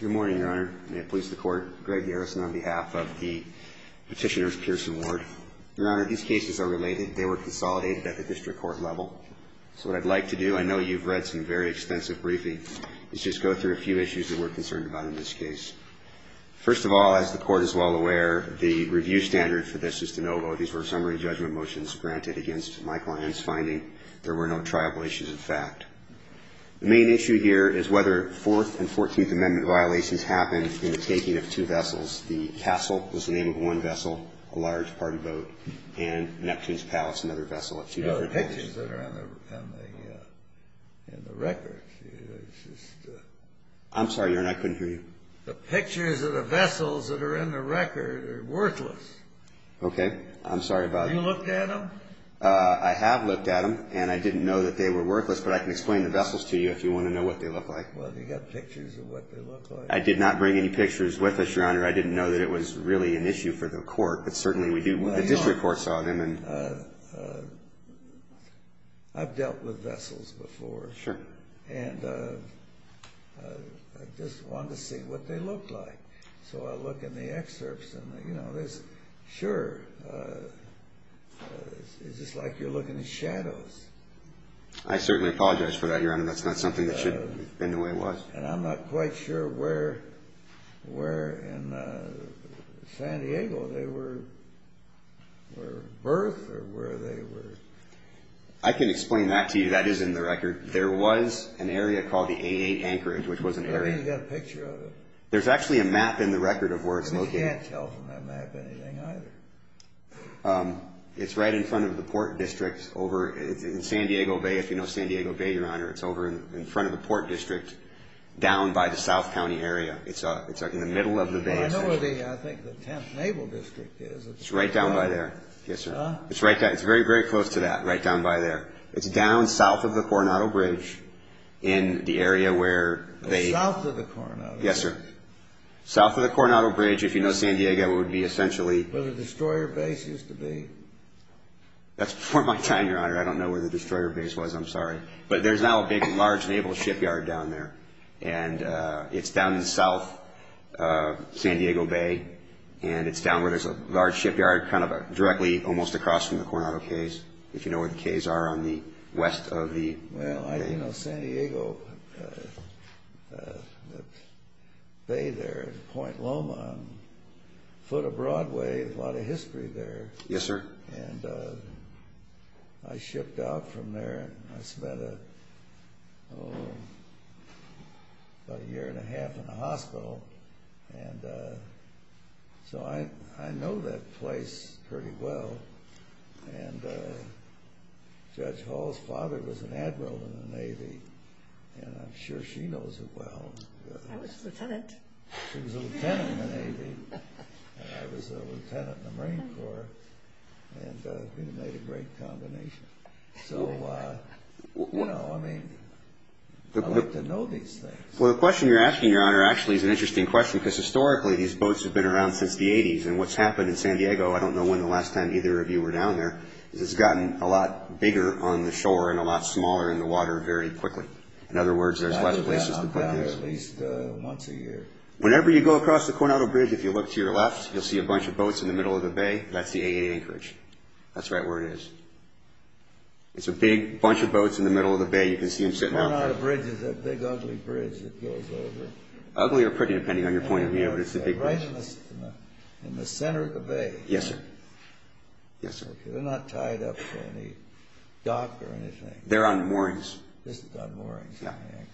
Good morning, Your Honor. May it please the Court, Greg Garrison on behalf of the Petitioner's Pearson Ward. Your Honor, these cases are related. They were consolidated at the district court level. So what I'd like to do, I know you've read some very extensive briefings, is just go through a few issues that we're concerned about in this case. First of all, as the Court is well aware, the review standard for this is de novo. These were summary judgment motions granted against my client's finding. There were no triable issues, in fact. The main issue here is whether Fourth and Fourteenth Amendment violations happened in the taking of two vessels. The Castle was the name of one vessel, a large party boat, and Neptune's Palace, another vessel of two different boats. No, the pictures that are in the record, it's just... I'm sorry, Your Honor, I couldn't hear you. The pictures of the vessels that are in the record are worthless. Okay. I'm sorry about that. Have you looked at them? I have looked at them, and I didn't know that they were worthless. But I can explain the vessels to you if you want to know what they look like. Well, do you have pictures of what they look like? I did not bring any pictures with us, Your Honor. I didn't know that it was really an issue for the court, but certainly we do... Well, Your Honor, I've dealt with vessels before. Sure. And I just wanted to see what they looked like. So I look in the excerpts and, you know, there's... Sure. It's just like you're looking at shadows. I certainly apologize for that, Your Honor. That's not something that should have been the way it was. And I'm not quite sure where in San Diego they were birthed or where they were... I can explain that to you. That is in the record. There was an area called the AA Anchorage, which was an area... Maybe you've got a picture of it. There's actually a map in the record of where it's located. We can't tell from that map anything either. It's right in front of the Port District over in San Diego Bay. If you know San Diego Bay, Your Honor, it's over in front of the Port District down by the South County area. It's in the middle of the bay. I know where the, I think, the 10th Naval District is. It's right down by there. Yes, sir. It's very, very close to that, right down by there. It's down south of the Coronado Bridge in the area where they... South of the Coronado Bridge. Yes, sir. South of the Coronado Bridge, if you know San Diego, it would be essentially... Where the destroyer base used to be. That's before my time, Your Honor. I don't know where the destroyer base was. I'm sorry. But there's now a big, large naval shipyard down there. And it's down south of San Diego Bay. And it's down where there's a large shipyard kind of directly almost across from the Coronado Cays, if you know where the Cays are on the west of the bay. Well, you know, San Diego Bay there, Point Loma, foot of Broadway, a lot of history there. Yes, sir. And I shipped out from there. I spent about a year and a half in the hospital. And so I know that place pretty well. And Judge Hall's father was an admiral in the Navy. And I'm sure she knows it well. I was a lieutenant. She was a lieutenant in the Navy. And I was a lieutenant in the Marine Corps. And we made a great combination. So, you know, I mean, I like to know these things. Well, the question you're asking, Your Honor, actually is an interesting question because historically these boats have been around since the 80s. And what's happened in San Diego, I don't know when the last time either of you were down there, is it's gotten a lot bigger on the shore and a lot smaller in the water very quickly. In other words, there's less places to put these. At least once a year. Whenever you go across the Coronado Bridge, if you look to your left, you'll see a bunch of boats in the middle of the bay. That's the 888 Anchorage. That's right where it is. It's a big bunch of boats in the middle of the bay. You can see them sitting out there. The Coronado Bridge is that big ugly bridge that goes over. Ugly or pretty, depending on your point of view, but it's the big bridge. They're right in the center of the bay. Yes, sir. They're not tied up to any dock or anything. They're on moorings. Just on moorings on the Anchorage.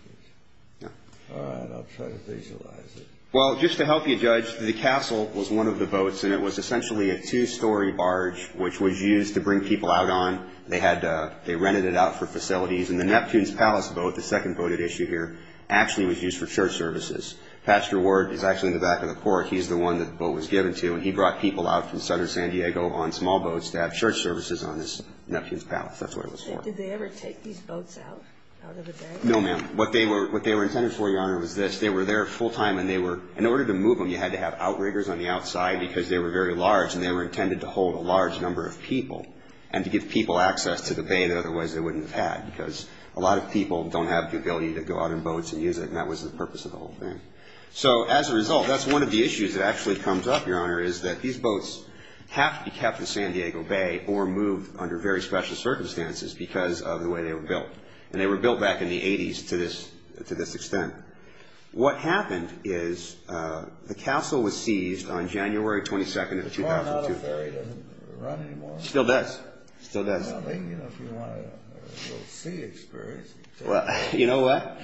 Yeah. All right, I'll try to visualize it. Well, just to help you, Judge, the castle was one of the boats, and it was essentially a two-story barge which was used to bring people out on. They rented it out for facilities. And the Neptune's Palace boat, the second boat at issue here, actually was used for church services. Pastor Ward is actually in the back of the court. He's the one that the boat was given to, and he brought people out from southern San Diego on small boats to have church services on this Neptune's Palace. That's what it was for. Did they ever take these boats out of the bay? No, ma'am. What they were intended for, Your Honor, was this. They were there full time, and they were, in order to move them, you had to have outriggers on the outside because they were very large, and they were intended to hold a large number of people and to give people access to the bay that otherwise they wouldn't have had because a lot of people don't have the ability to go out in boats and use it, and that was the purpose of the whole thing. So as a result, that's one of the issues that actually comes up, Your Honor, is that these boats have to be kept in San Diego Bay or moved under very special circumstances because of the way they were built. And they were built back in the 80s to this extent. What happened is the castle was seized on January 22nd of 2002. The Toronto Ferry doesn't run anymore? Still does. Still does. I think, you know, if you want a little sea experience. Well, you know what?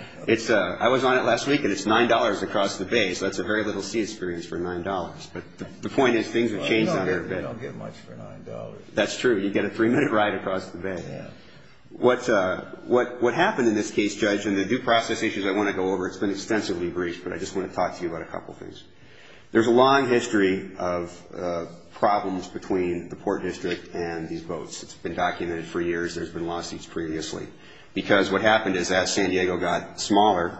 I was on it last week, and it's $9 across the bay, so that's a very little sea experience for $9. But the point is things have changed on there a bit. You don't get much for $9. That's true. You get a three-minute ride across the bay. Yeah. What happened in this case, Judge, and the due process issues I want to go over, it's been extensively briefed, but I just want to talk to you about a couple things. There's a long history of problems between the Port District and these boats. It's been documented for years. There's been lawsuits previously because what happened is as San Diego got smaller,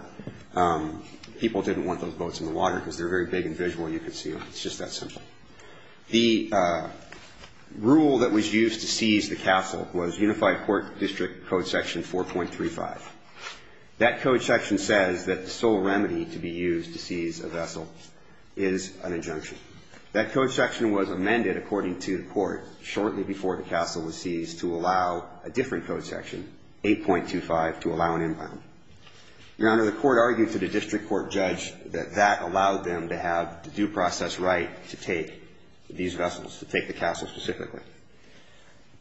people didn't want those boats in the water because they're very big and visual. You can see them. It's just that simple. The rule that was used to seize the castle was Unified Port District Code Section 4.35. That code section says that the sole remedy to be used to seize a vessel is an injunction. That code section was amended, according to the court, shortly before the castle was seized to allow a different code section, 8.25, to allow an inbound. Your Honor, the court argued to the district court judge that that allowed them to have the due process right to take these vessels, to take the castle specifically.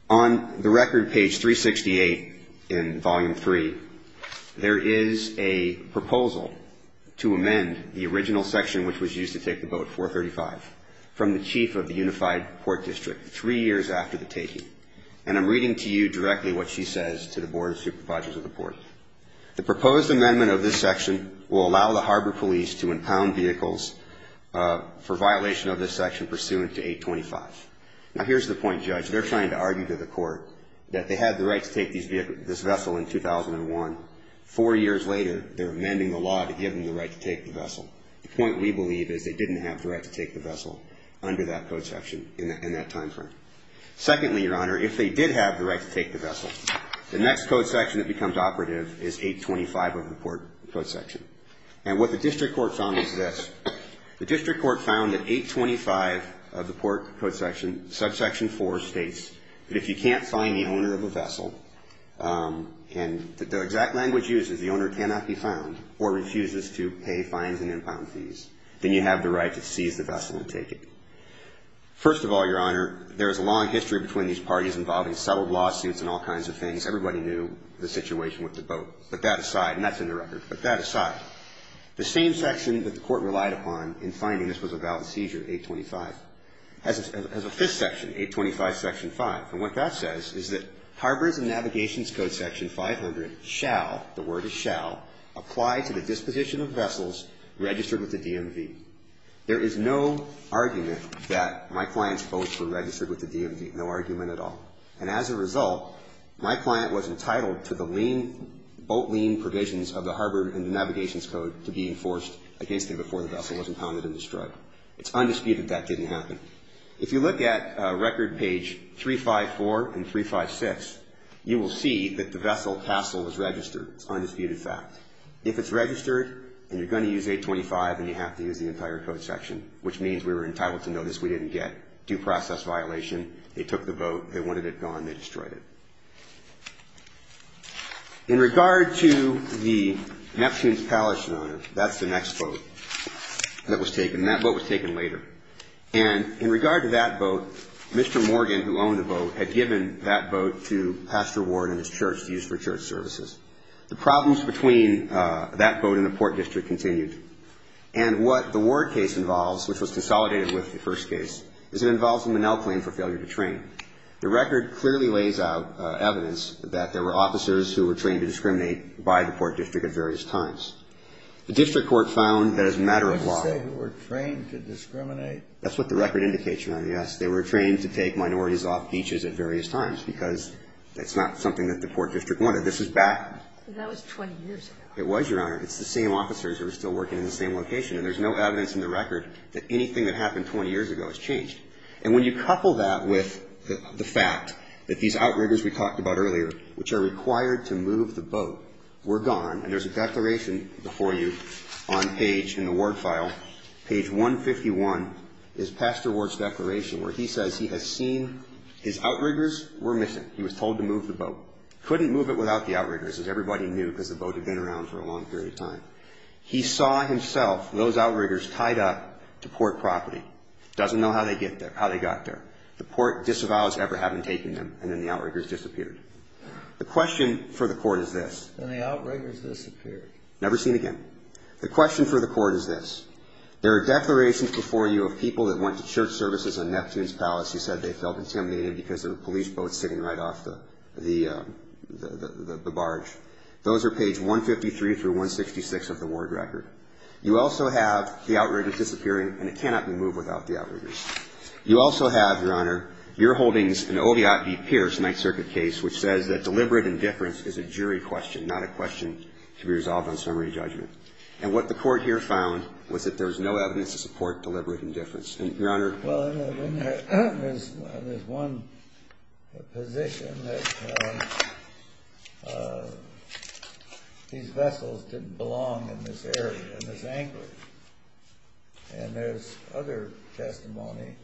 On the record, page 368 in Volume 3, there is a proposal to amend the original section which was used to take the boat, 4.35, from the chief of the Unified Port District three years after the taking. And I'm reading to you directly what she says to the Board of Supervisors of the Port. The proposed amendment of this section will allow the harbor police to impound vehicles for violation of this section pursuant to 8.25. Now, here's the point, Judge. They're trying to argue to the court that they had the right to take this vessel in 2001. Four years later, they're amending the law to give them the right to take the vessel. The point we believe is they didn't have the right to take the vessel under that code section in that timeframe. Secondly, Your Honor, if they did have the right to take the vessel, the next code section that becomes operative is 8.25 of the Port code section. And what the district court found is this. The district court found that 8.25 of the Port code section, subsection 4, states that if you can't find the owner of a vessel, and the exact language used is the owner cannot be found or refuses to pay fines and impound fees, then you have the right to seize the vessel and take it. First of all, Your Honor, there is a long history between these parties involving several lawsuits and all kinds of things. Everybody knew the situation with the boat. But that aside, and that's in the record, but that aside, the same section that the court relied upon in finding this was a valid seizure, 8.25, has a fifth section, 8.25, section 5. And what that says is that harbors and navigations code section 500 shall, the word is shall, apply to the disposition of vessels registered with the DMV. There is no argument that my client's boats were registered with the DMV, no argument at all. And as a result, my client was entitled to the boat lien provisions of the harbor and the navigations code to be enforced against him before the vessel was impounded and destroyed. It's undisputed that didn't happen. If you look at record page 354 and 356, you will see that the vessel hassle is registered. It's undisputed fact. If it's registered and you're going to use 8.25 and you have to use the entire code section, which means we were entitled to notice we didn't get due process violation. They took the boat. They wanted it gone. They destroyed it. In regard to the Neptune's Palace, Your Honor, that's the next boat that was taken. And that boat was taken later. And in regard to that boat, Mr. Morgan, who owned the boat, had given that boat to Pastor Ward and his church to use for church services. The problems between that boat and the port district continued. And what the Ward case involves, which was consolidated with the first case, is it involves the Minnell claim for failure to train. The record clearly lays out evidence that there were officers who were trained to discriminate by the port district at various times. The district court found that as a matter of law. You didn't say who were trained to discriminate. That's what the record indicates, Your Honor, yes. They were trained to take minorities off beaches at various times because that's not something that the port district wanted. This is back. That was 20 years ago. It was, Your Honor. It's the same officers who were still working in the same location. And there's no evidence in the record that anything that happened 20 years ago has changed. And when you couple that with the fact that these outriggers we talked about earlier, which are required to move the boat, were gone, and there's a declaration before you on page in the Ward file, page 151, is Pastor Ward's declaration where he says he has seen his outriggers were missing. He was told to move the boat. Couldn't move it without the outriggers, as everybody knew, because the boat had been around for a long period of time. He saw himself those outriggers tied up to port property. Doesn't know how they got there. The port disavows ever having taken them, and then the outriggers disappeared. The question for the court is this. There are declarations before you of people that went to church services in Neptune's Palace who said they felt intimidated because of a police boat sitting right off the barge. Those are page 153 through 166 of the Ward record. You also have the outriggers disappearing, and it cannot be moved without the outriggers. You also have, Your Honor, your holdings in Oviatt v. Pierce, Ninth Circuit case, which says that deliberate indifference is a jury question. Not a question to be resolved on summary judgment. And what the court here found was that there was no evidence to support deliberate indifference. Your Honor. Well, there's one position that these vessels didn't belong in this area, in this anchorage. And there's other testimony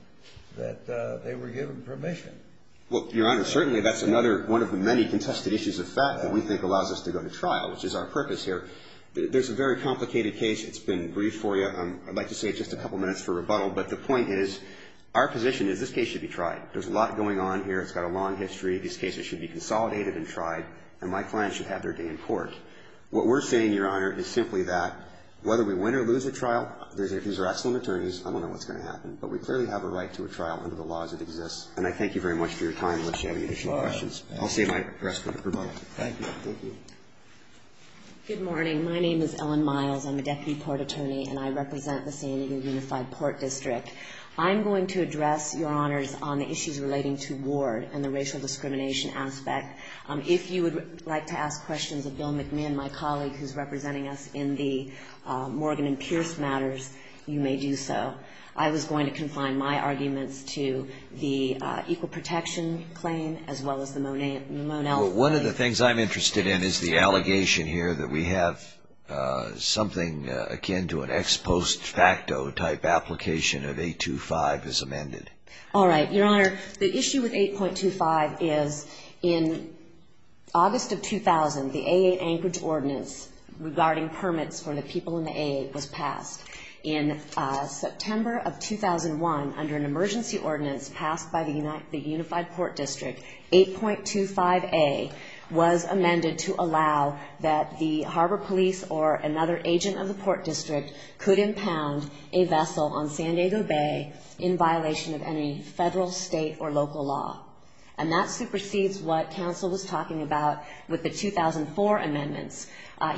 that they were given permission. Well, Your Honor, certainly that's another one of the many contested issues of fact that we think allows us to go to trial, which is our purpose here. There's a very complicated case. It's been briefed for you. I'd like to say just a couple minutes for rebuttal. But the point is our position is this case should be tried. There's a lot going on here. It's got a long history. These cases should be consolidated and tried, and my clients should have their day in court. What we're saying, Your Honor, is simply that whether we win or lose a trial, these are excellent attorneys. I don't know what's going to happen. But we clearly have a right to a trial under the laws that exist. And I thank you very much for your time, unless you have any additional questions. I'll save my breath for rebuttal. Thank you. Thank you. Good morning. My name is Ellen Miles. I'm a Deputy Port Attorney, and I represent the San Diego Unified Port District. I'm going to address, Your Honors, on the issues relating to Ward and the racial discrimination aspect. If you would like to ask questions of Bill McMinn, my colleague, who's representing us in the Morgan and Pierce matters, you may do so. I was going to confine my arguments to the Equal Protection Claim as well as the Monell Claim. Well, one of the things I'm interested in is the allegation here that we have something akin to an ex post facto type application of 8.25 as amended. All right. Your Honor, the issue with 8.25 is in August of 2000, the AA Anchorage Ordinance regarding permits for the people in the AA was passed. In September of 2001, under an emergency ordinance passed by the Unified Port District, 8.25A was amended to allow that the Harbor Police or another agent of the Port District could impound a vessel on San Diego Bay in violation of any federal, state, or local law. And that supersedes what counsel was talking about with the 2004 amendments.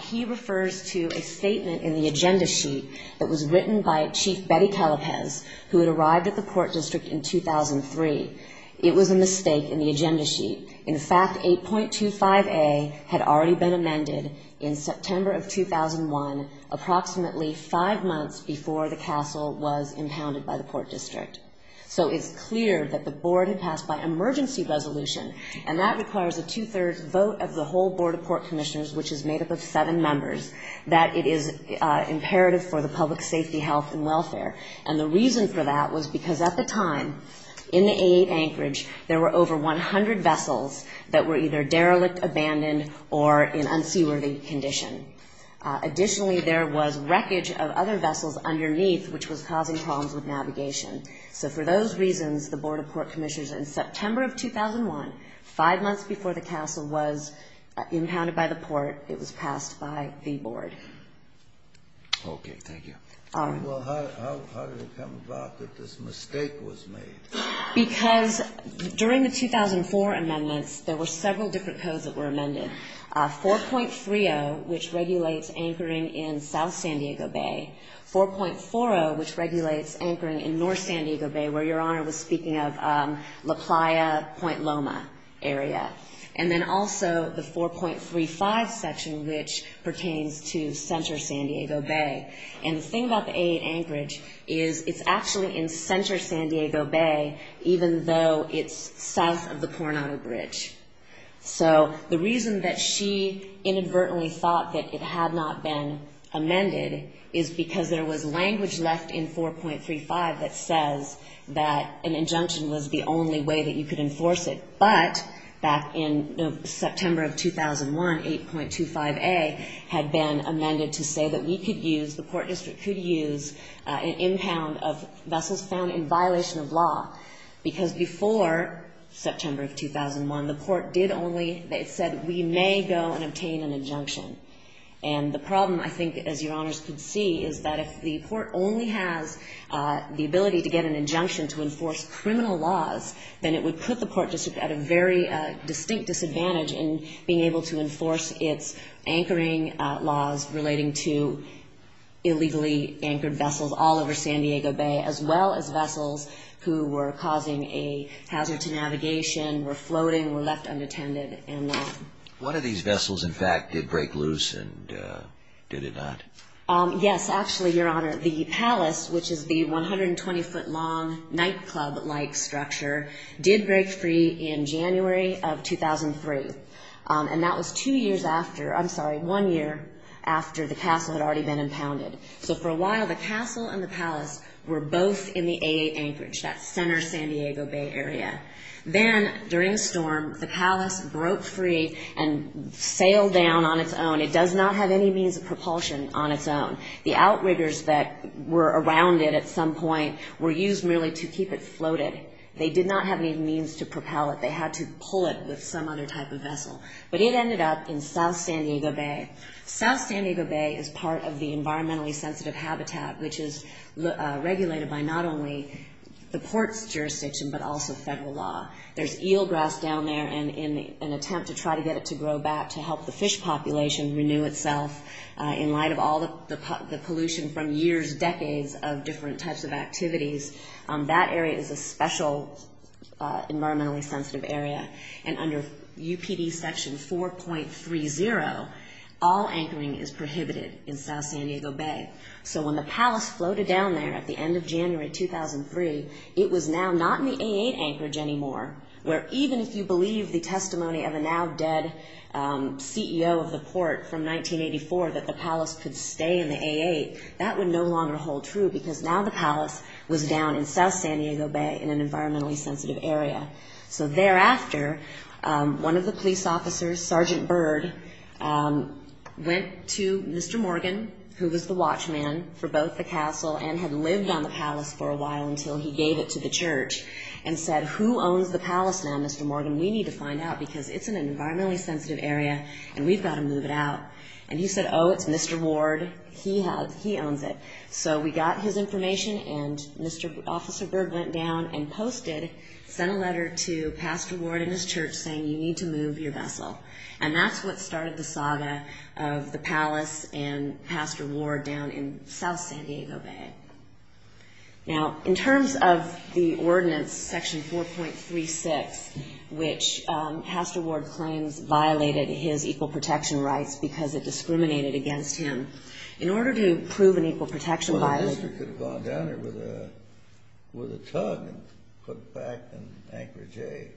He refers to a statement in the agenda sheet that was written by Chief Betty Calapez, who had arrived at the Port District in 2003. It was a mistake in the agenda sheet. In fact, 8.25A had already been amended in September of 2001, approximately five months before the castle was impounded by the Port District. So it's clear that the Board had passed by emergency resolution, and that requires a two-thirds vote of the whole Board of Port Commissioners, which is made up of seven members, that it is imperative for the public's safety, health, and welfare. And the reason for that was because at the time, in the AA Anchorage, there were over 100 vessels that were either derelict, abandoned, or in unseaworthy condition. Additionally, there was wreckage of other vessels underneath, which was causing problems with navigation. So for those reasons, the Board of Port Commissioners in September of 2001, five months before the castle was impounded by the Port, it was passed by the Board. Okay. Thank you. All right. Well, how did it come about that this mistake was made? Because during the 2004 amendments, there were several different codes that were amended, 4.30, which regulates anchoring in South San Diego Bay, 4.40, which regulates anchoring in North San Diego Bay, where Your Honor was speaking of La Playa, Point Loma area, and then also the 4.35 section, which pertains to Center San Diego Bay. And the thing about the AA Anchorage is it's actually in Center San Diego Bay, even though it's south of the Coronado Bridge. So the reason that she inadvertently thought that it had not been amended is because there was language left in 4.35 that says that an injunction was the only way that you could enforce it. But back in September of 2001, 8.25a had been amended to say that we could use, the court district could use an impound of vessels found in violation of law, because before September of 2001, the court did only, it said we may go and obtain an injunction. And the problem, I think, as Your Honors could see, is that if the court only has the ability to get an injunction to enforce criminal laws, then it would put the court district at a very distinct disadvantage in being able to enforce its anchoring laws relating to illegally anchored vessels all over San Diego Bay, as well as vessels who were causing a hazard to navigation, were floating, were left unattended, and that. One of these vessels, in fact, did break loose, and did it not? Yes, actually, Your Honor. The palace, which is the 120-foot-long nightclub-like structure, did break free in January of 2003. And that was two years after, I'm sorry, one year after the castle had already been impounded. So for a while, the castle and the palace were both in the AA Anchorage, that center San Diego Bay area. Then, during a storm, the palace broke free and sailed down on its own. It does not have any means of propulsion on its own. The outriggers that were around it at some point were used merely to keep it floated. They did not have any means to propel it. They had to pull it with some other type of vessel. But it ended up in south San Diego Bay. South San Diego Bay is part of the environmentally sensitive habitat, which is regulated by not only the port's jurisdiction, but also federal law. There's eelgrass down there in an attempt to try to get it to grow back to help the fish population renew itself. In light of all the pollution from years, decades of different types of activities, that area is a special environmentally sensitive area. Under UPD Section 4.30, all anchoring is prohibited in south San Diego Bay. So when the palace floated down there at the end of January 2003, it was now not in the AA Anchorage anymore, where even if you believe the testimony of a now dead CEO of the port from 1984, that the palace could stay in the AA, that would no longer hold true, because now the palace was down in south San Diego Bay in an environmentally sensitive area. So thereafter, one of the police officers, Sergeant Bird, went to Mr. Morgan, who was the watchman for both the castle and had lived on the palace for a while until he gave it to the church, and said, Who owns the palace now, Mr. Morgan? We need to find out, because it's in an environmentally sensitive area, and we've got to move it out. And he said, Oh, it's Mr. Ward. He owns it. So we got his information, and Officer Bird went down and posted, sent a letter to Pastor Ward and his church saying, You need to move your vessel. And that's what started the saga of the palace and Pastor Ward down in south San Diego Bay. Now, in terms of the ordinance, Section 4.36, which Pastor Ward claims violated his equal protection rights because it discriminated against him, in order to prove an equal protection violation The officer could have gone down there with a tug and put it back and anchored Jay.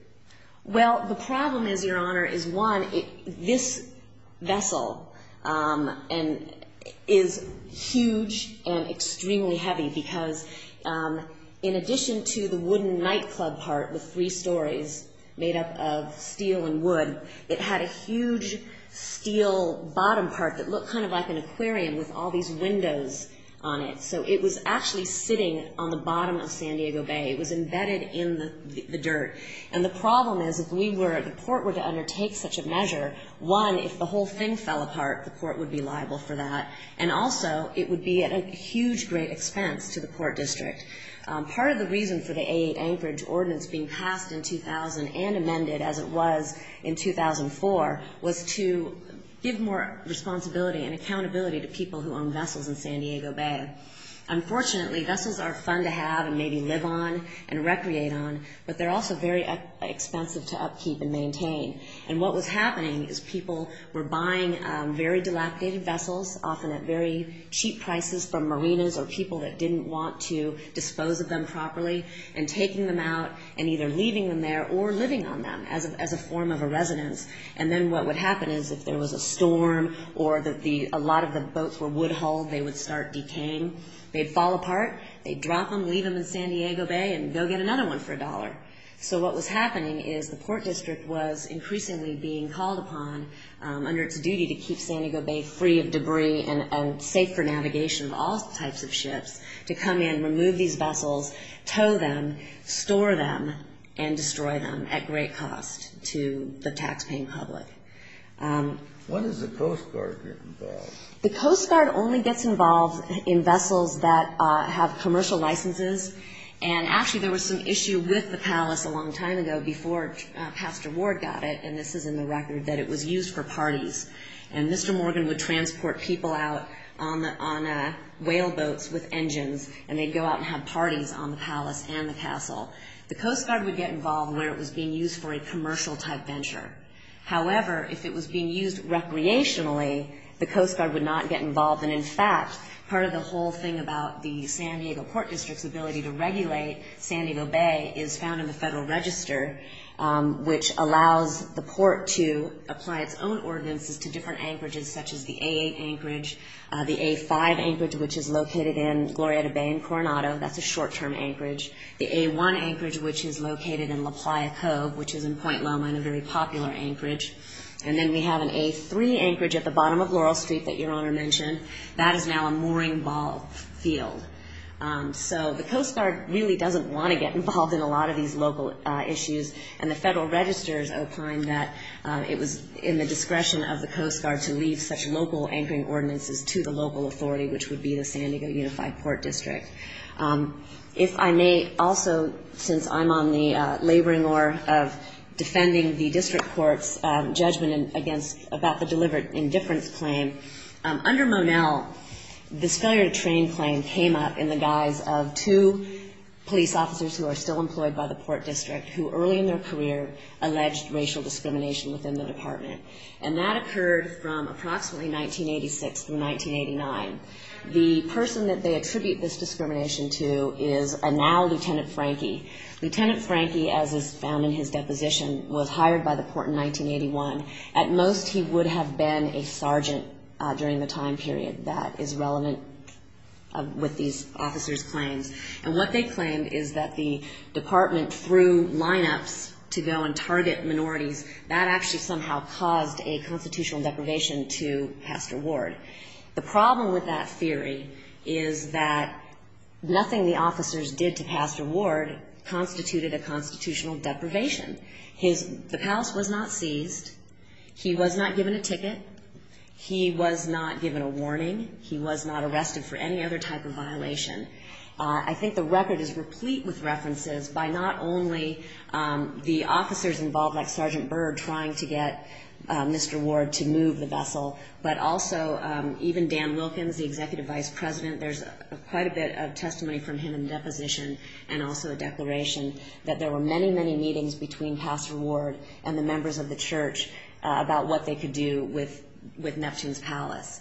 Well, the problem is, Your Honor, is one, this vessel is huge and extremely heavy, because in addition to the wooden nightclub part with three stories made up of steel and wood, it had a huge steel bottom part that looked kind of like an aquarium with all these windows on it. So it was actually sitting on the bottom of San Diego Bay. It was embedded in the dirt. And the problem is, if we were, if the court were to undertake such a measure, one, if the whole thing fell apart, the court would be liable for that, and also it would be at a huge great expense to the court district. Part of the reason for the A8 Anchorage Ordinance being passed in 2000 and amended as it was in 2004 was to give more responsibility and accountability to people who own vessels in San Diego Bay. Unfortunately, vessels are fun to have and maybe live on and recreate on, but they're also very expensive to upkeep and maintain. And what was happening is people were buying very dilapidated vessels, often at very cheap prices from marinas or people that didn't want to dispose of them properly, and taking them out and either leaving them there or living on them as a form of a residence. And then what would happen is if there was a storm or that a lot of the boats were wood-hulled, they would start decaying. They'd fall apart. They'd drop them, leave them in San Diego Bay, and go get another one for a dollar. So what was happening is the court district was increasingly being called upon, under its duty to keep San Diego Bay free of debris and safe for navigation of all types of ships, to come in, remove these vessels, tow them, store them, and destroy them at great cost to the taxpaying public. When does the Coast Guard get involved? The Coast Guard only gets involved in vessels that have commercial licenses. And actually there was some issue with the palace a long time ago before Pastor Ward got it, and this is in the record, that it was used for parties. And Mr. Morgan would transport people out on whale boats with engines, and they'd go out and have parties on the palace and the castle. The Coast Guard would get involved where it was being used for a commercial-type venture. However, if it was being used recreationally, the Coast Guard would not get involved. And, in fact, part of the whole thing about the San Diego Port District's ability to regulate San Diego Bay is found in the Federal Register, which allows the port to apply its own ordinances to different anchorages, such as the A8 anchorage, the A5 anchorage, which is located in Glorieta Bay in Coronado. That's a short-term anchorage. The A1 anchorage, which is located in La Playa Cove, which is in Point Loma, and a very popular anchorage. And then we have an A3 anchorage at the bottom of Laurel Street that Your Honor mentioned. That is now a mooring ball field. So the Coast Guard really doesn't want to get involved in a lot of these local issues, and the Federal Register has opined that it was in the discretion of the Coast Guard to leave such local anchoring ordinances to the local authority, which would be the San Diego Unified Port District. If I may also, since I'm on the laboring oar of defending the district court's judgment about the deliberate indifference claim, under Monell this failure to train claim came up in the guise of two police officers who are still employed by the Port District, who early in their career alleged racial discrimination within the department. And that occurred from approximately 1986 through 1989. The person that they attribute this discrimination to is now Lieutenant Frankie. Lieutenant Frankie, as is found in his deposition, was hired by the Port in 1981. At most he would have been a sergeant during the time period. That is relevant with these officers' claims. And what they claimed is that the department threw lineups to go and target minorities. That actually somehow caused a constitutional deprivation to Pastor Ward. The problem with that theory is that nothing the officers did to Pastor Ward constituted a constitutional deprivation. The palace was not seized. He was not given a ticket. He was not given a warning. He was not arrested for any other type of violation. I think the record is replete with references by not only the officers involved, like Sergeant Berg trying to get Mr. Ward to move the vessel, but also even Dan Wilkins, the executive vice president. There's quite a bit of testimony from him in the deposition and also a declaration that there were many, many meetings between Pastor Ward and the members of the church about what they could do with Neptune's Palace.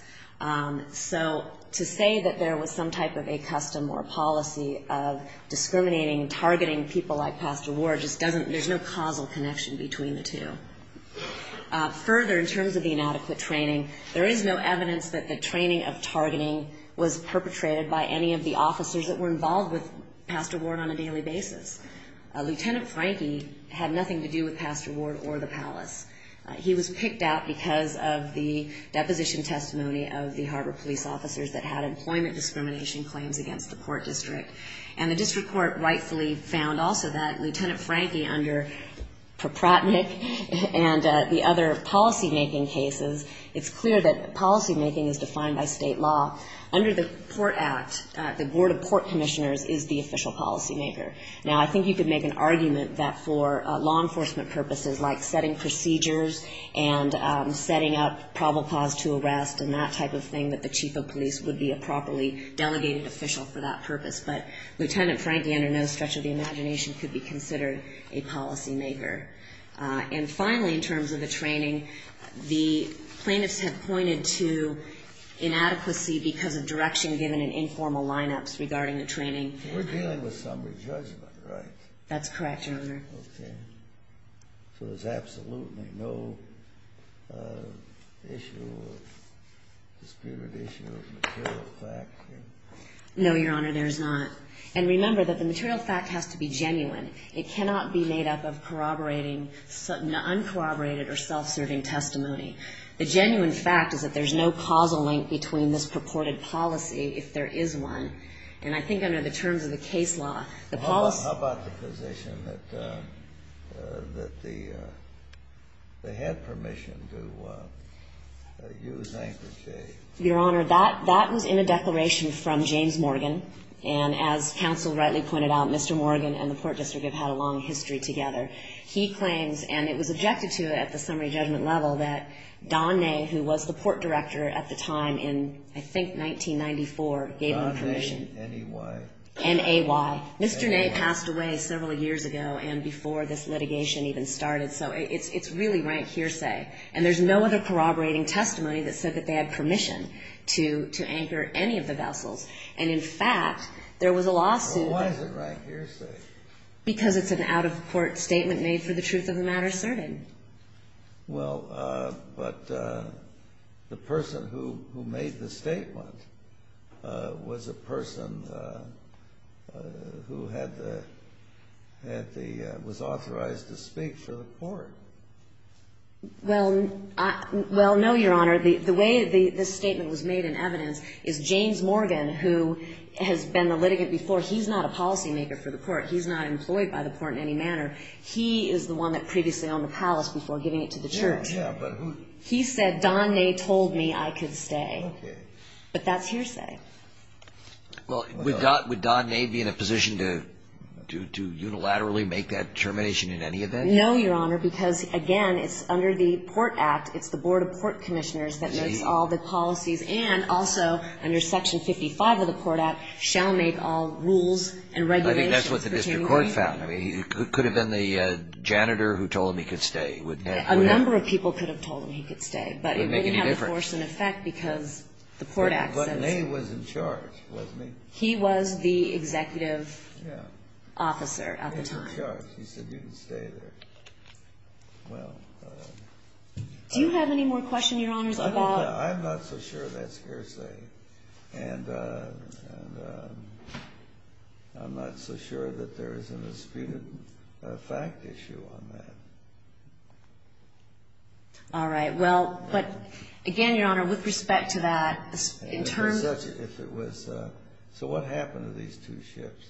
So to say that there was some type of a custom or policy of discriminating and targeting people like Pastor Ward just doesn't, there's no causal connection between the two. Further, in terms of the inadequate training, there is no evidence that the training of targeting was perpetrated by any of the officers that were involved with Pastor Ward on a daily basis. Lieutenant Frankie had nothing to do with Pastor Ward or the palace. He was picked out because of the deposition testimony of the harbor police officers that had employment discrimination claims against the court district. And the district court rightfully found also that Lieutenant Frankie, under Propratnick and the other policymaking cases, it's clear that policymaking is defined by state law. Under the Port Act, the Board of Port Commissioners is the official policymaker. Now, I think you could make an argument that for law enforcement purposes, like setting procedures and setting up probable cause to arrest and that type of thing, that the chief of police would be a properly delegated official for that purpose. But Lieutenant Frankie, under no stretch of the imagination, could be considered a policymaker. And finally, in terms of the training, the plaintiffs have pointed to inadequacy because of direction given in informal lineups regarding the training. We're dealing with summary judgment, right? That's correct, Your Honor. Okay. So there's absolutely no issue or disputed issue of material fact? No, Your Honor, there's not. And remember that the material fact has to be genuine. It cannot be made up of corroborating uncorroborated or self-serving testimony. The genuine fact is that there's no causal link between this purported policy if there is one. And I think under the terms of the case law, the policy ---- How about the position that they had permission to use Anchor J? Your Honor, that was in a declaration from James Morgan. And as counsel rightly pointed out, Mr. Morgan and the Port District have had a long history together. He claims, and it was objected to at the summary judgment level, that Don Ney, who was the port director at the time in, I think, 1994, gave him permission. Don Ney, N-A-Y. N-A-Y. Mr. Ney passed away several years ago and before this litigation even started. So it's really rank hearsay. And there's no other corroborating testimony that said that they had permission to anchor any of the vessels. And, in fact, there was a lawsuit. Well, why is it rank hearsay? Because it's an out-of-court statement made for the truth-of-the-matter survey. Well, but the person who made the statement was a person who had the ---- was authorized to speak for the court. Well, no, Your Honor. The way this statement was made in evidence is James Morgan, who has been the litigant before, he's not a policymaker for the court. He's not employed by the court in any manner. He is the one that previously owned the palace before giving it to the church. Yeah, but who ---- He said, Don Ney told me I could stay. Okay. But that's hearsay. Well, would Don Ney be in a position to unilaterally make that determination in any event? No, Your Honor, because, again, it's under the Port Act, it's the Board of Port Commissioners that makes all the policies and also under Section 55 of the Port Act shall make all rules and regulations pertaining ---- I think that's what the district court found. I mean, it could have been the janitor who told him he could stay. A number of people could have told him he could stay. But it didn't have a force in effect because the Port Act says ---- But Ney was in charge, wasn't he? He was the executive officer at the time. He was in charge. He said you can stay there. Well ---- Do you have any more questions, Your Honors, about ---- I'm not so sure that's hearsay. And I'm not so sure that there isn't a speeded fact issue on that. All right. Well, but, again, Your Honor, with respect to that, in terms ---- If it was ---- So what happened to these two ships?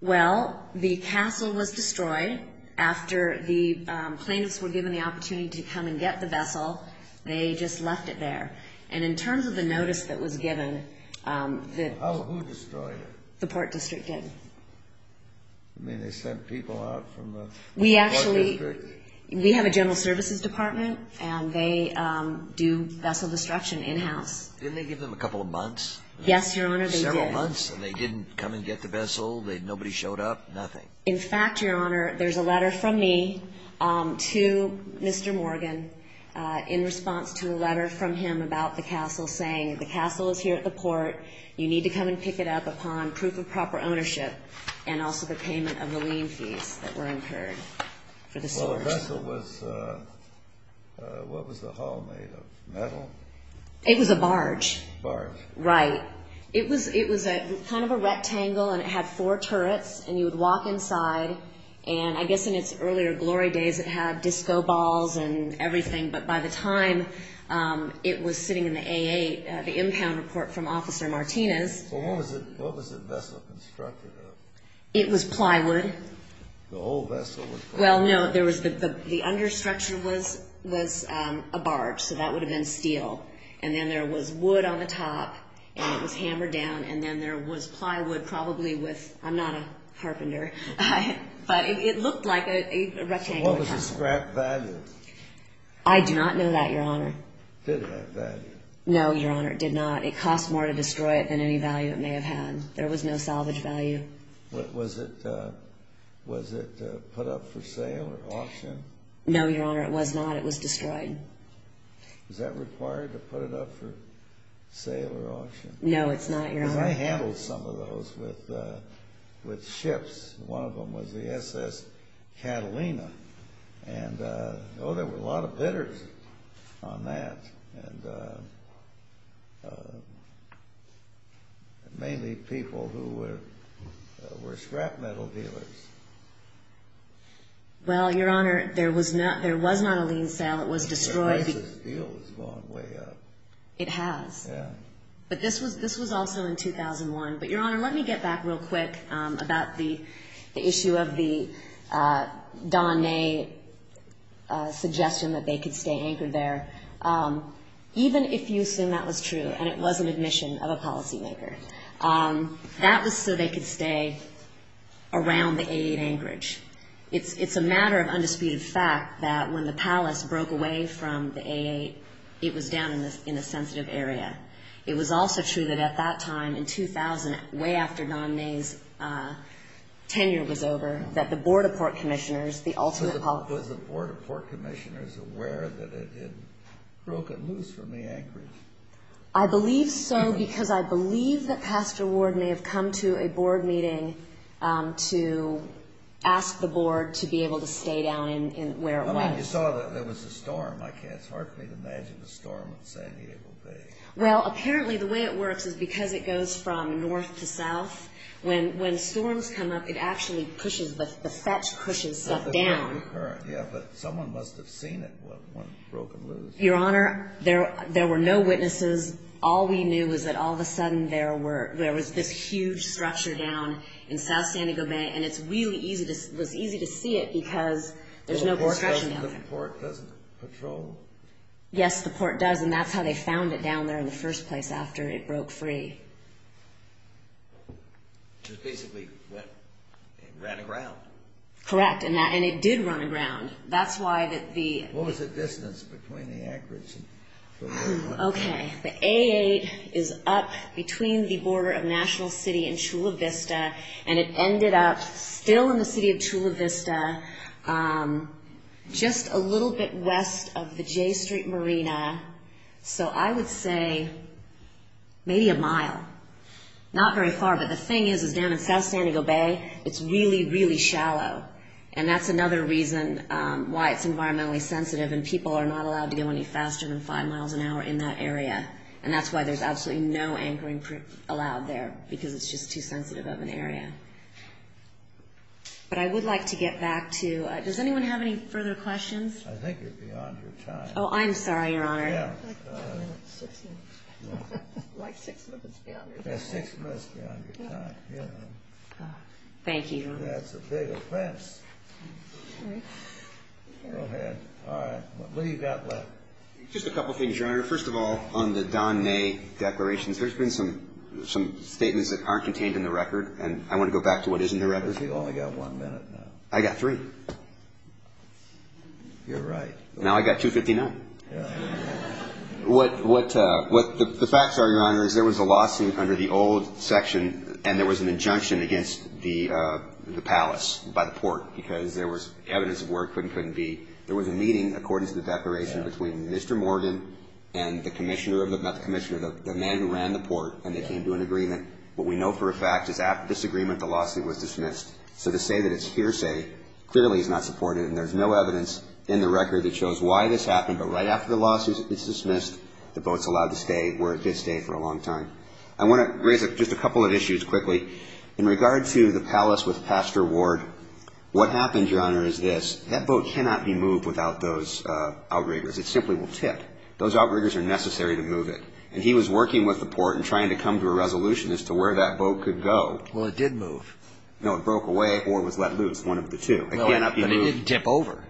Well, the castle was destroyed after the plaintiffs were given the opportunity to come and get the vessel. They just left it there. And in terms of the notice that was given, the ---- Who destroyed it? The Port District did. You mean they sent people out from the Port District? We actually ---- We have a general services department, and they do vessel destruction in-house. Didn't they give them a couple of months? Yes, Your Honor, they did. They didn't come and get the vessel? Nobody showed up? In fact, Your Honor, there's a letter from me to Mr. Morgan in response to a letter from him about the castle, saying the castle is here at the port. You need to come and pick it up upon proof of proper ownership and also the payment of the lien fees that were incurred for the sewers. Well, the vessel was ---- What was the hull made of, metal? It was a barge. Barge. Right. It was kind of a rectangle, and it had four turrets, and you would walk inside. And I guess in its earlier glory days, it had disco balls and everything. But by the time it was sitting in the A8, the impound report from Officer Martinez ---- Well, what was the vessel constructed of? It was plywood. The whole vessel was plywood? Well, no, there was the understructure was a barge, so that would have been steel. And then there was wood on the top, and it was hammered down, and then there was plywood probably with ---- I'm not a carpenter. But it looked like a rectangle. What was the scrap value? I do not know that, Your Honor. Did it have value? No, Your Honor, it did not. It cost more to destroy it than any value it may have had. There was no salvage value. Was it put up for sale or auction? No, Your Honor, it was not. It was destroyed. Was that required to put it up for sale or auction? No, it's not, Your Honor. Because I handled some of those with ships. One of them was the SS Catalina. And, oh, there were a lot of bidders on that, and mainly people who were scrap metal dealers. Well, Your Honor, there was not a lien sale. It was destroyed. But this deal has gone way up. It has. Yeah. But this was also in 2001. But, Your Honor, let me get back real quick about the issue of the Don May suggestion that they could stay anchored there. Even if you assume that was true and it was an admission of a policymaker, that was so they could stay around the A8 anchorage. It's a matter of undisputed fact that when the palace broke away from the A8, it was down in a sensitive area. It was also true that at that time, in 2000, way after Don May's tenure was over, that the Board of Port Commissioners, the ultimate policymaker. Was the Board of Port Commissioners aware that it had broken loose from the anchorage? I believe so because I believe that Pastor Ward may have come to a board meeting to ask the board to be able to stay down where it was. I mean, you saw that there was a storm. It's hard for me to imagine a storm in San Diego Bay. Well, apparently, the way it works is because it goes from north to south. When storms come up, it actually pushes, the fetch pushes stuff down. Yeah, but someone must have seen it when it broke loose. Your Honor, there were no witnesses. All we knew was that all of a sudden there was this huge structure down in south San Diego Bay, and it was easy to see it because there's no board structure down there. The port doesn't patrol? Yes, the port does, and that's how they found it down there in the first place after it broke free. It basically ran aground. Correct, and it did run aground. What was the distance between the anchorage? Okay, the A8 is up between the border of National City and Chula Vista, and it ended up still in the city of Chula Vista, just a little bit west of the J Street Marina, so I would say maybe a mile, not very far. But the thing is, is down in south San Diego Bay, it's really, really shallow, and that's another reason why it's environmentally sensitive, and people are not allowed to go any faster than five miles an hour in that area, and that's why there's absolutely no anchoring allowed there, because it's just too sensitive of an area. But I would like to get back to, does anyone have any further questions? I think you're beyond your time. Oh, I'm sorry, Your Honor. Yeah. Like six minutes beyond your time. Yeah, six minutes beyond your time, yeah. Thank you. That's a big offense. Go ahead. All right. What do you got left? Just a couple things, Your Honor. First of all, on the Don Ney declarations, there's been some statements that aren't contained in the record, and I want to go back to what is in the record. You've only got one minute now. I got three. You're right. Now I got 2.59. What the facts are, Your Honor, is there was a lawsuit under the old section, and there was an injunction against the palace by the port, because there was evidence of where it could and couldn't be. There was a meeting, according to the declaration, between Mr. Morgan and the man who ran the port, and they came to an agreement. What we know for a fact is after this agreement, the lawsuit was dismissed. So to say that it's hearsay clearly is not supported, and there's no evidence in the record that shows why this happened. But right after the lawsuit is dismissed, the boat's allowed to stay where it did stay for a long time. I want to raise just a couple of issues quickly. In regard to the palace with Pastor Ward, what happened, Your Honor, is this. That boat cannot be moved without those outriggers. It simply will tip. Those outriggers are necessary to move it. And he was working with the port and trying to come to a resolution as to where that boat could go. Well, it did move. No, it broke away or was let loose, one of the two. It cannot be moved. No, but it didn't tip over.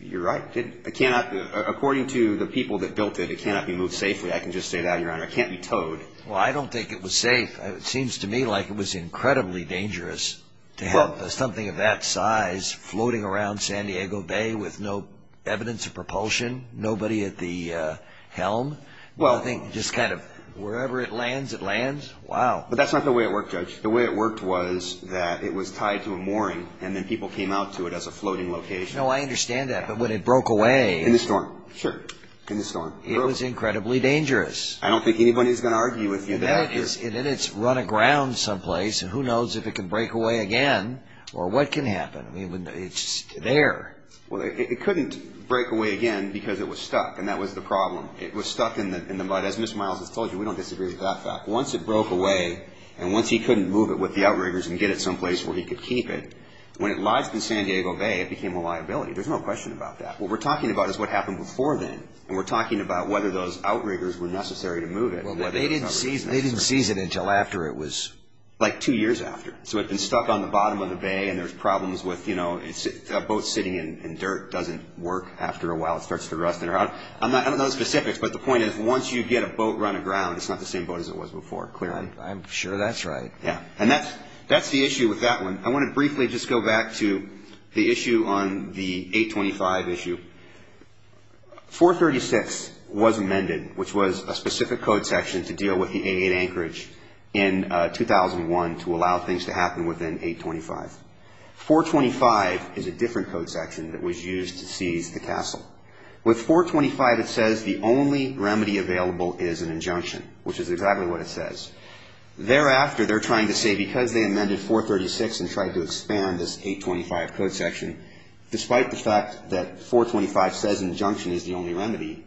You're right. It cannot. According to the people that built it, it cannot be moved safely. I can just say that, Your Honor. It can't be towed. Well, I don't think it was safe. It seems to me like it was incredibly dangerous to have something of that size floating around San Diego Bay with no evidence of propulsion, nobody at the helm. I think just kind of wherever it lands, it lands. Wow. But that's not the way it worked, Judge. The way it worked was that it was tied to a mooring and then people came out to it as a floating location. No, I understand that. But when it broke away. In the storm. Sure. In the storm. It was incredibly dangerous. I don't think anybody's going to argue with you there. And then it's run aground someplace and who knows if it can break away again or what can happen. It's there. Well, it couldn't break away again because it was stuck, and that was the problem. It was stuck in the mud. As Ms. Miles has told you, we don't disagree with that fact. Once it broke away and once he couldn't move it with the outriggers and get it someplace where he could keep it, when it lodged in San Diego Bay, it became a liability. There's no question about that. What we're talking about is what happened before then and we're talking about whether those outriggers were necessary to move it. They didn't seize it. They didn't seize it until after it was. Like two years after. So it had been stuck on the bottom of the bay and there's problems with, you know, a boat sitting in dirt doesn't work after a while. It starts to rust in or out. I don't know the specifics, but the point is once you get a boat run aground, it's not the same boat as it was before. I'm sure that's right. Yeah. And that's the issue with that one. I want to briefly just go back to the issue on the 825 issue. 436 was amended, which was a specific code section to deal with the A8 anchorage in 2001 to allow things to happen within 825. 425 is a different code section that was used to seize the castle. With 425, it says the only remedy available is an injunction, which is exactly what it says. Thereafter, they're trying to say because they amended 436 and tried to expand this 825 code section, despite the fact that 425 says injunction is the only remedy,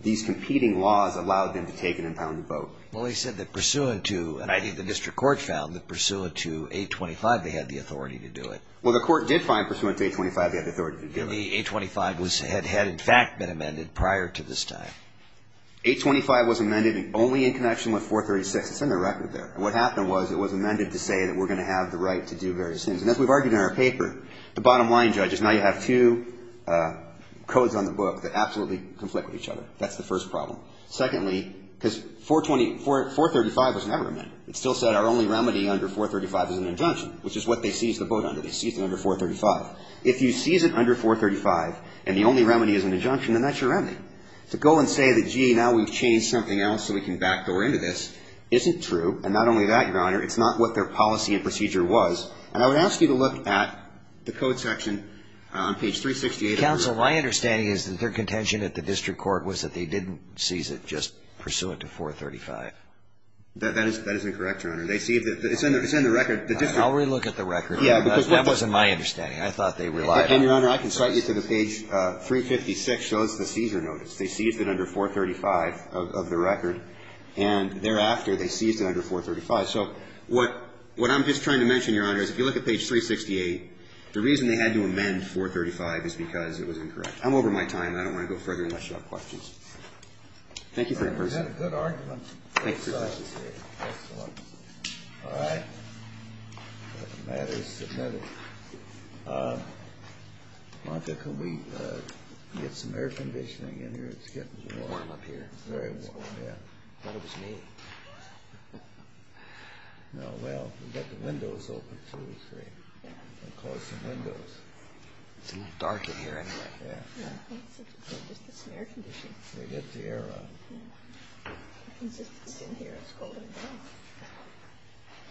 these competing laws allowed them to take an impounded boat. Well, they said that pursuant to, and I think the district court found that pursuant to 825 they had the authority to do it. Well, the court did find pursuant to 825 they had the authority to do it. The 825 had in fact been amended prior to this time. 825 was amended only in connection with 436. It's in the record there. And what happened was it was amended to say that we're going to have the right to do various things. And as we've argued in our paper, the bottom line, judges, now you have two codes on the book that absolutely conflict with each other. That's the first problem. Secondly, because 425 was never amended. It still said our only remedy under 435 is an injunction, which is what they seized the boat under. They seized it under 435. If you seize it under 435 and the only remedy is an injunction, then that's your remedy. To go and say that, gee, now we've changed something else so we can backdoor into this isn't true. And not only that, Your Honor, it's not what their policy and procedure was. And I would ask you to look at the code section on page 368. Counsel, my understanding is that their contention at the district court was that they didn't seize it, just pursue it to 435. That is incorrect, Your Honor. They seized it. It's in the record. I'll relook at the record. Yeah, because that wasn't my understanding. I thought they relied on it. And, Your Honor, I can cite you to the page 356, shows the seizure notice. They seized it under 435 of the record. And thereafter, they seized it under 435. So what I'm just trying to mention, Your Honor, is if you look at page 368, the reason they had to amend 435 is because it was incorrect. I'm over my time. I don't want to go further unless you have questions. Thank you for your patience. Good argument. Thank you for your patience. Excellent. All right. The matter is submitted. Martha, can we get some air conditioning in here? It's getting warm up here. It's very warm, yeah. I thought it was me. No. Well, we've got the windows open, two or three. We'll close the windows. It's a little dark in here anyway. Yeah. It's just the air conditioning. We'll get the air on. Yeah. It's just, it's in here. It's cold in here.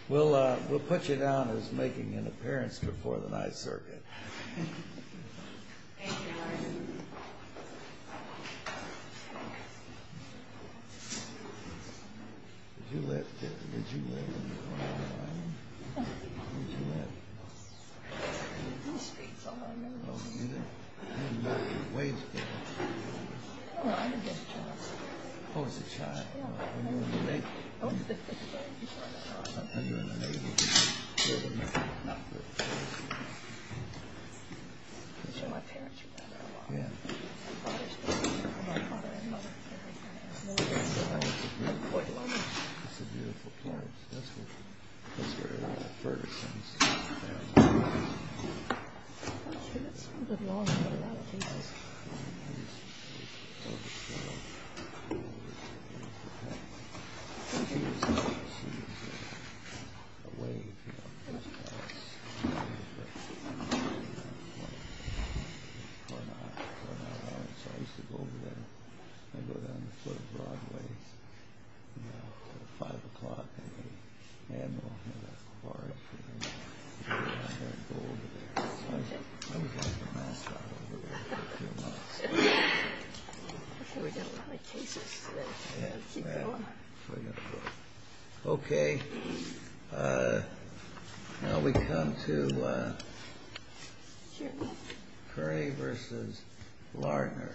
We'll put you down as making an appearance before the 9th Circuit. Thank you, Your Honor. Did you live in the corner? No. Where did you live? In the streets all over. Oh, you lived in the waves there. No, I lived as a child. Oh, as a child. Yeah. Were you in the Navy? I was in the Navy. I thought you were in the Navy. I thought you were in the Navy. I'm sure my parents were there that long. Yeah. My father's been there. My father and mother have been there. Oh, it's a beautiful place. It's a beautiful place. That's where a lot of Ferguson's family lives. Oh, sure. That's a good lawn. Look at that. Jesus. I used to go over there and go down the foot of Broadway until 5 o'clock. Okay, now we come to Curry v. Lardner.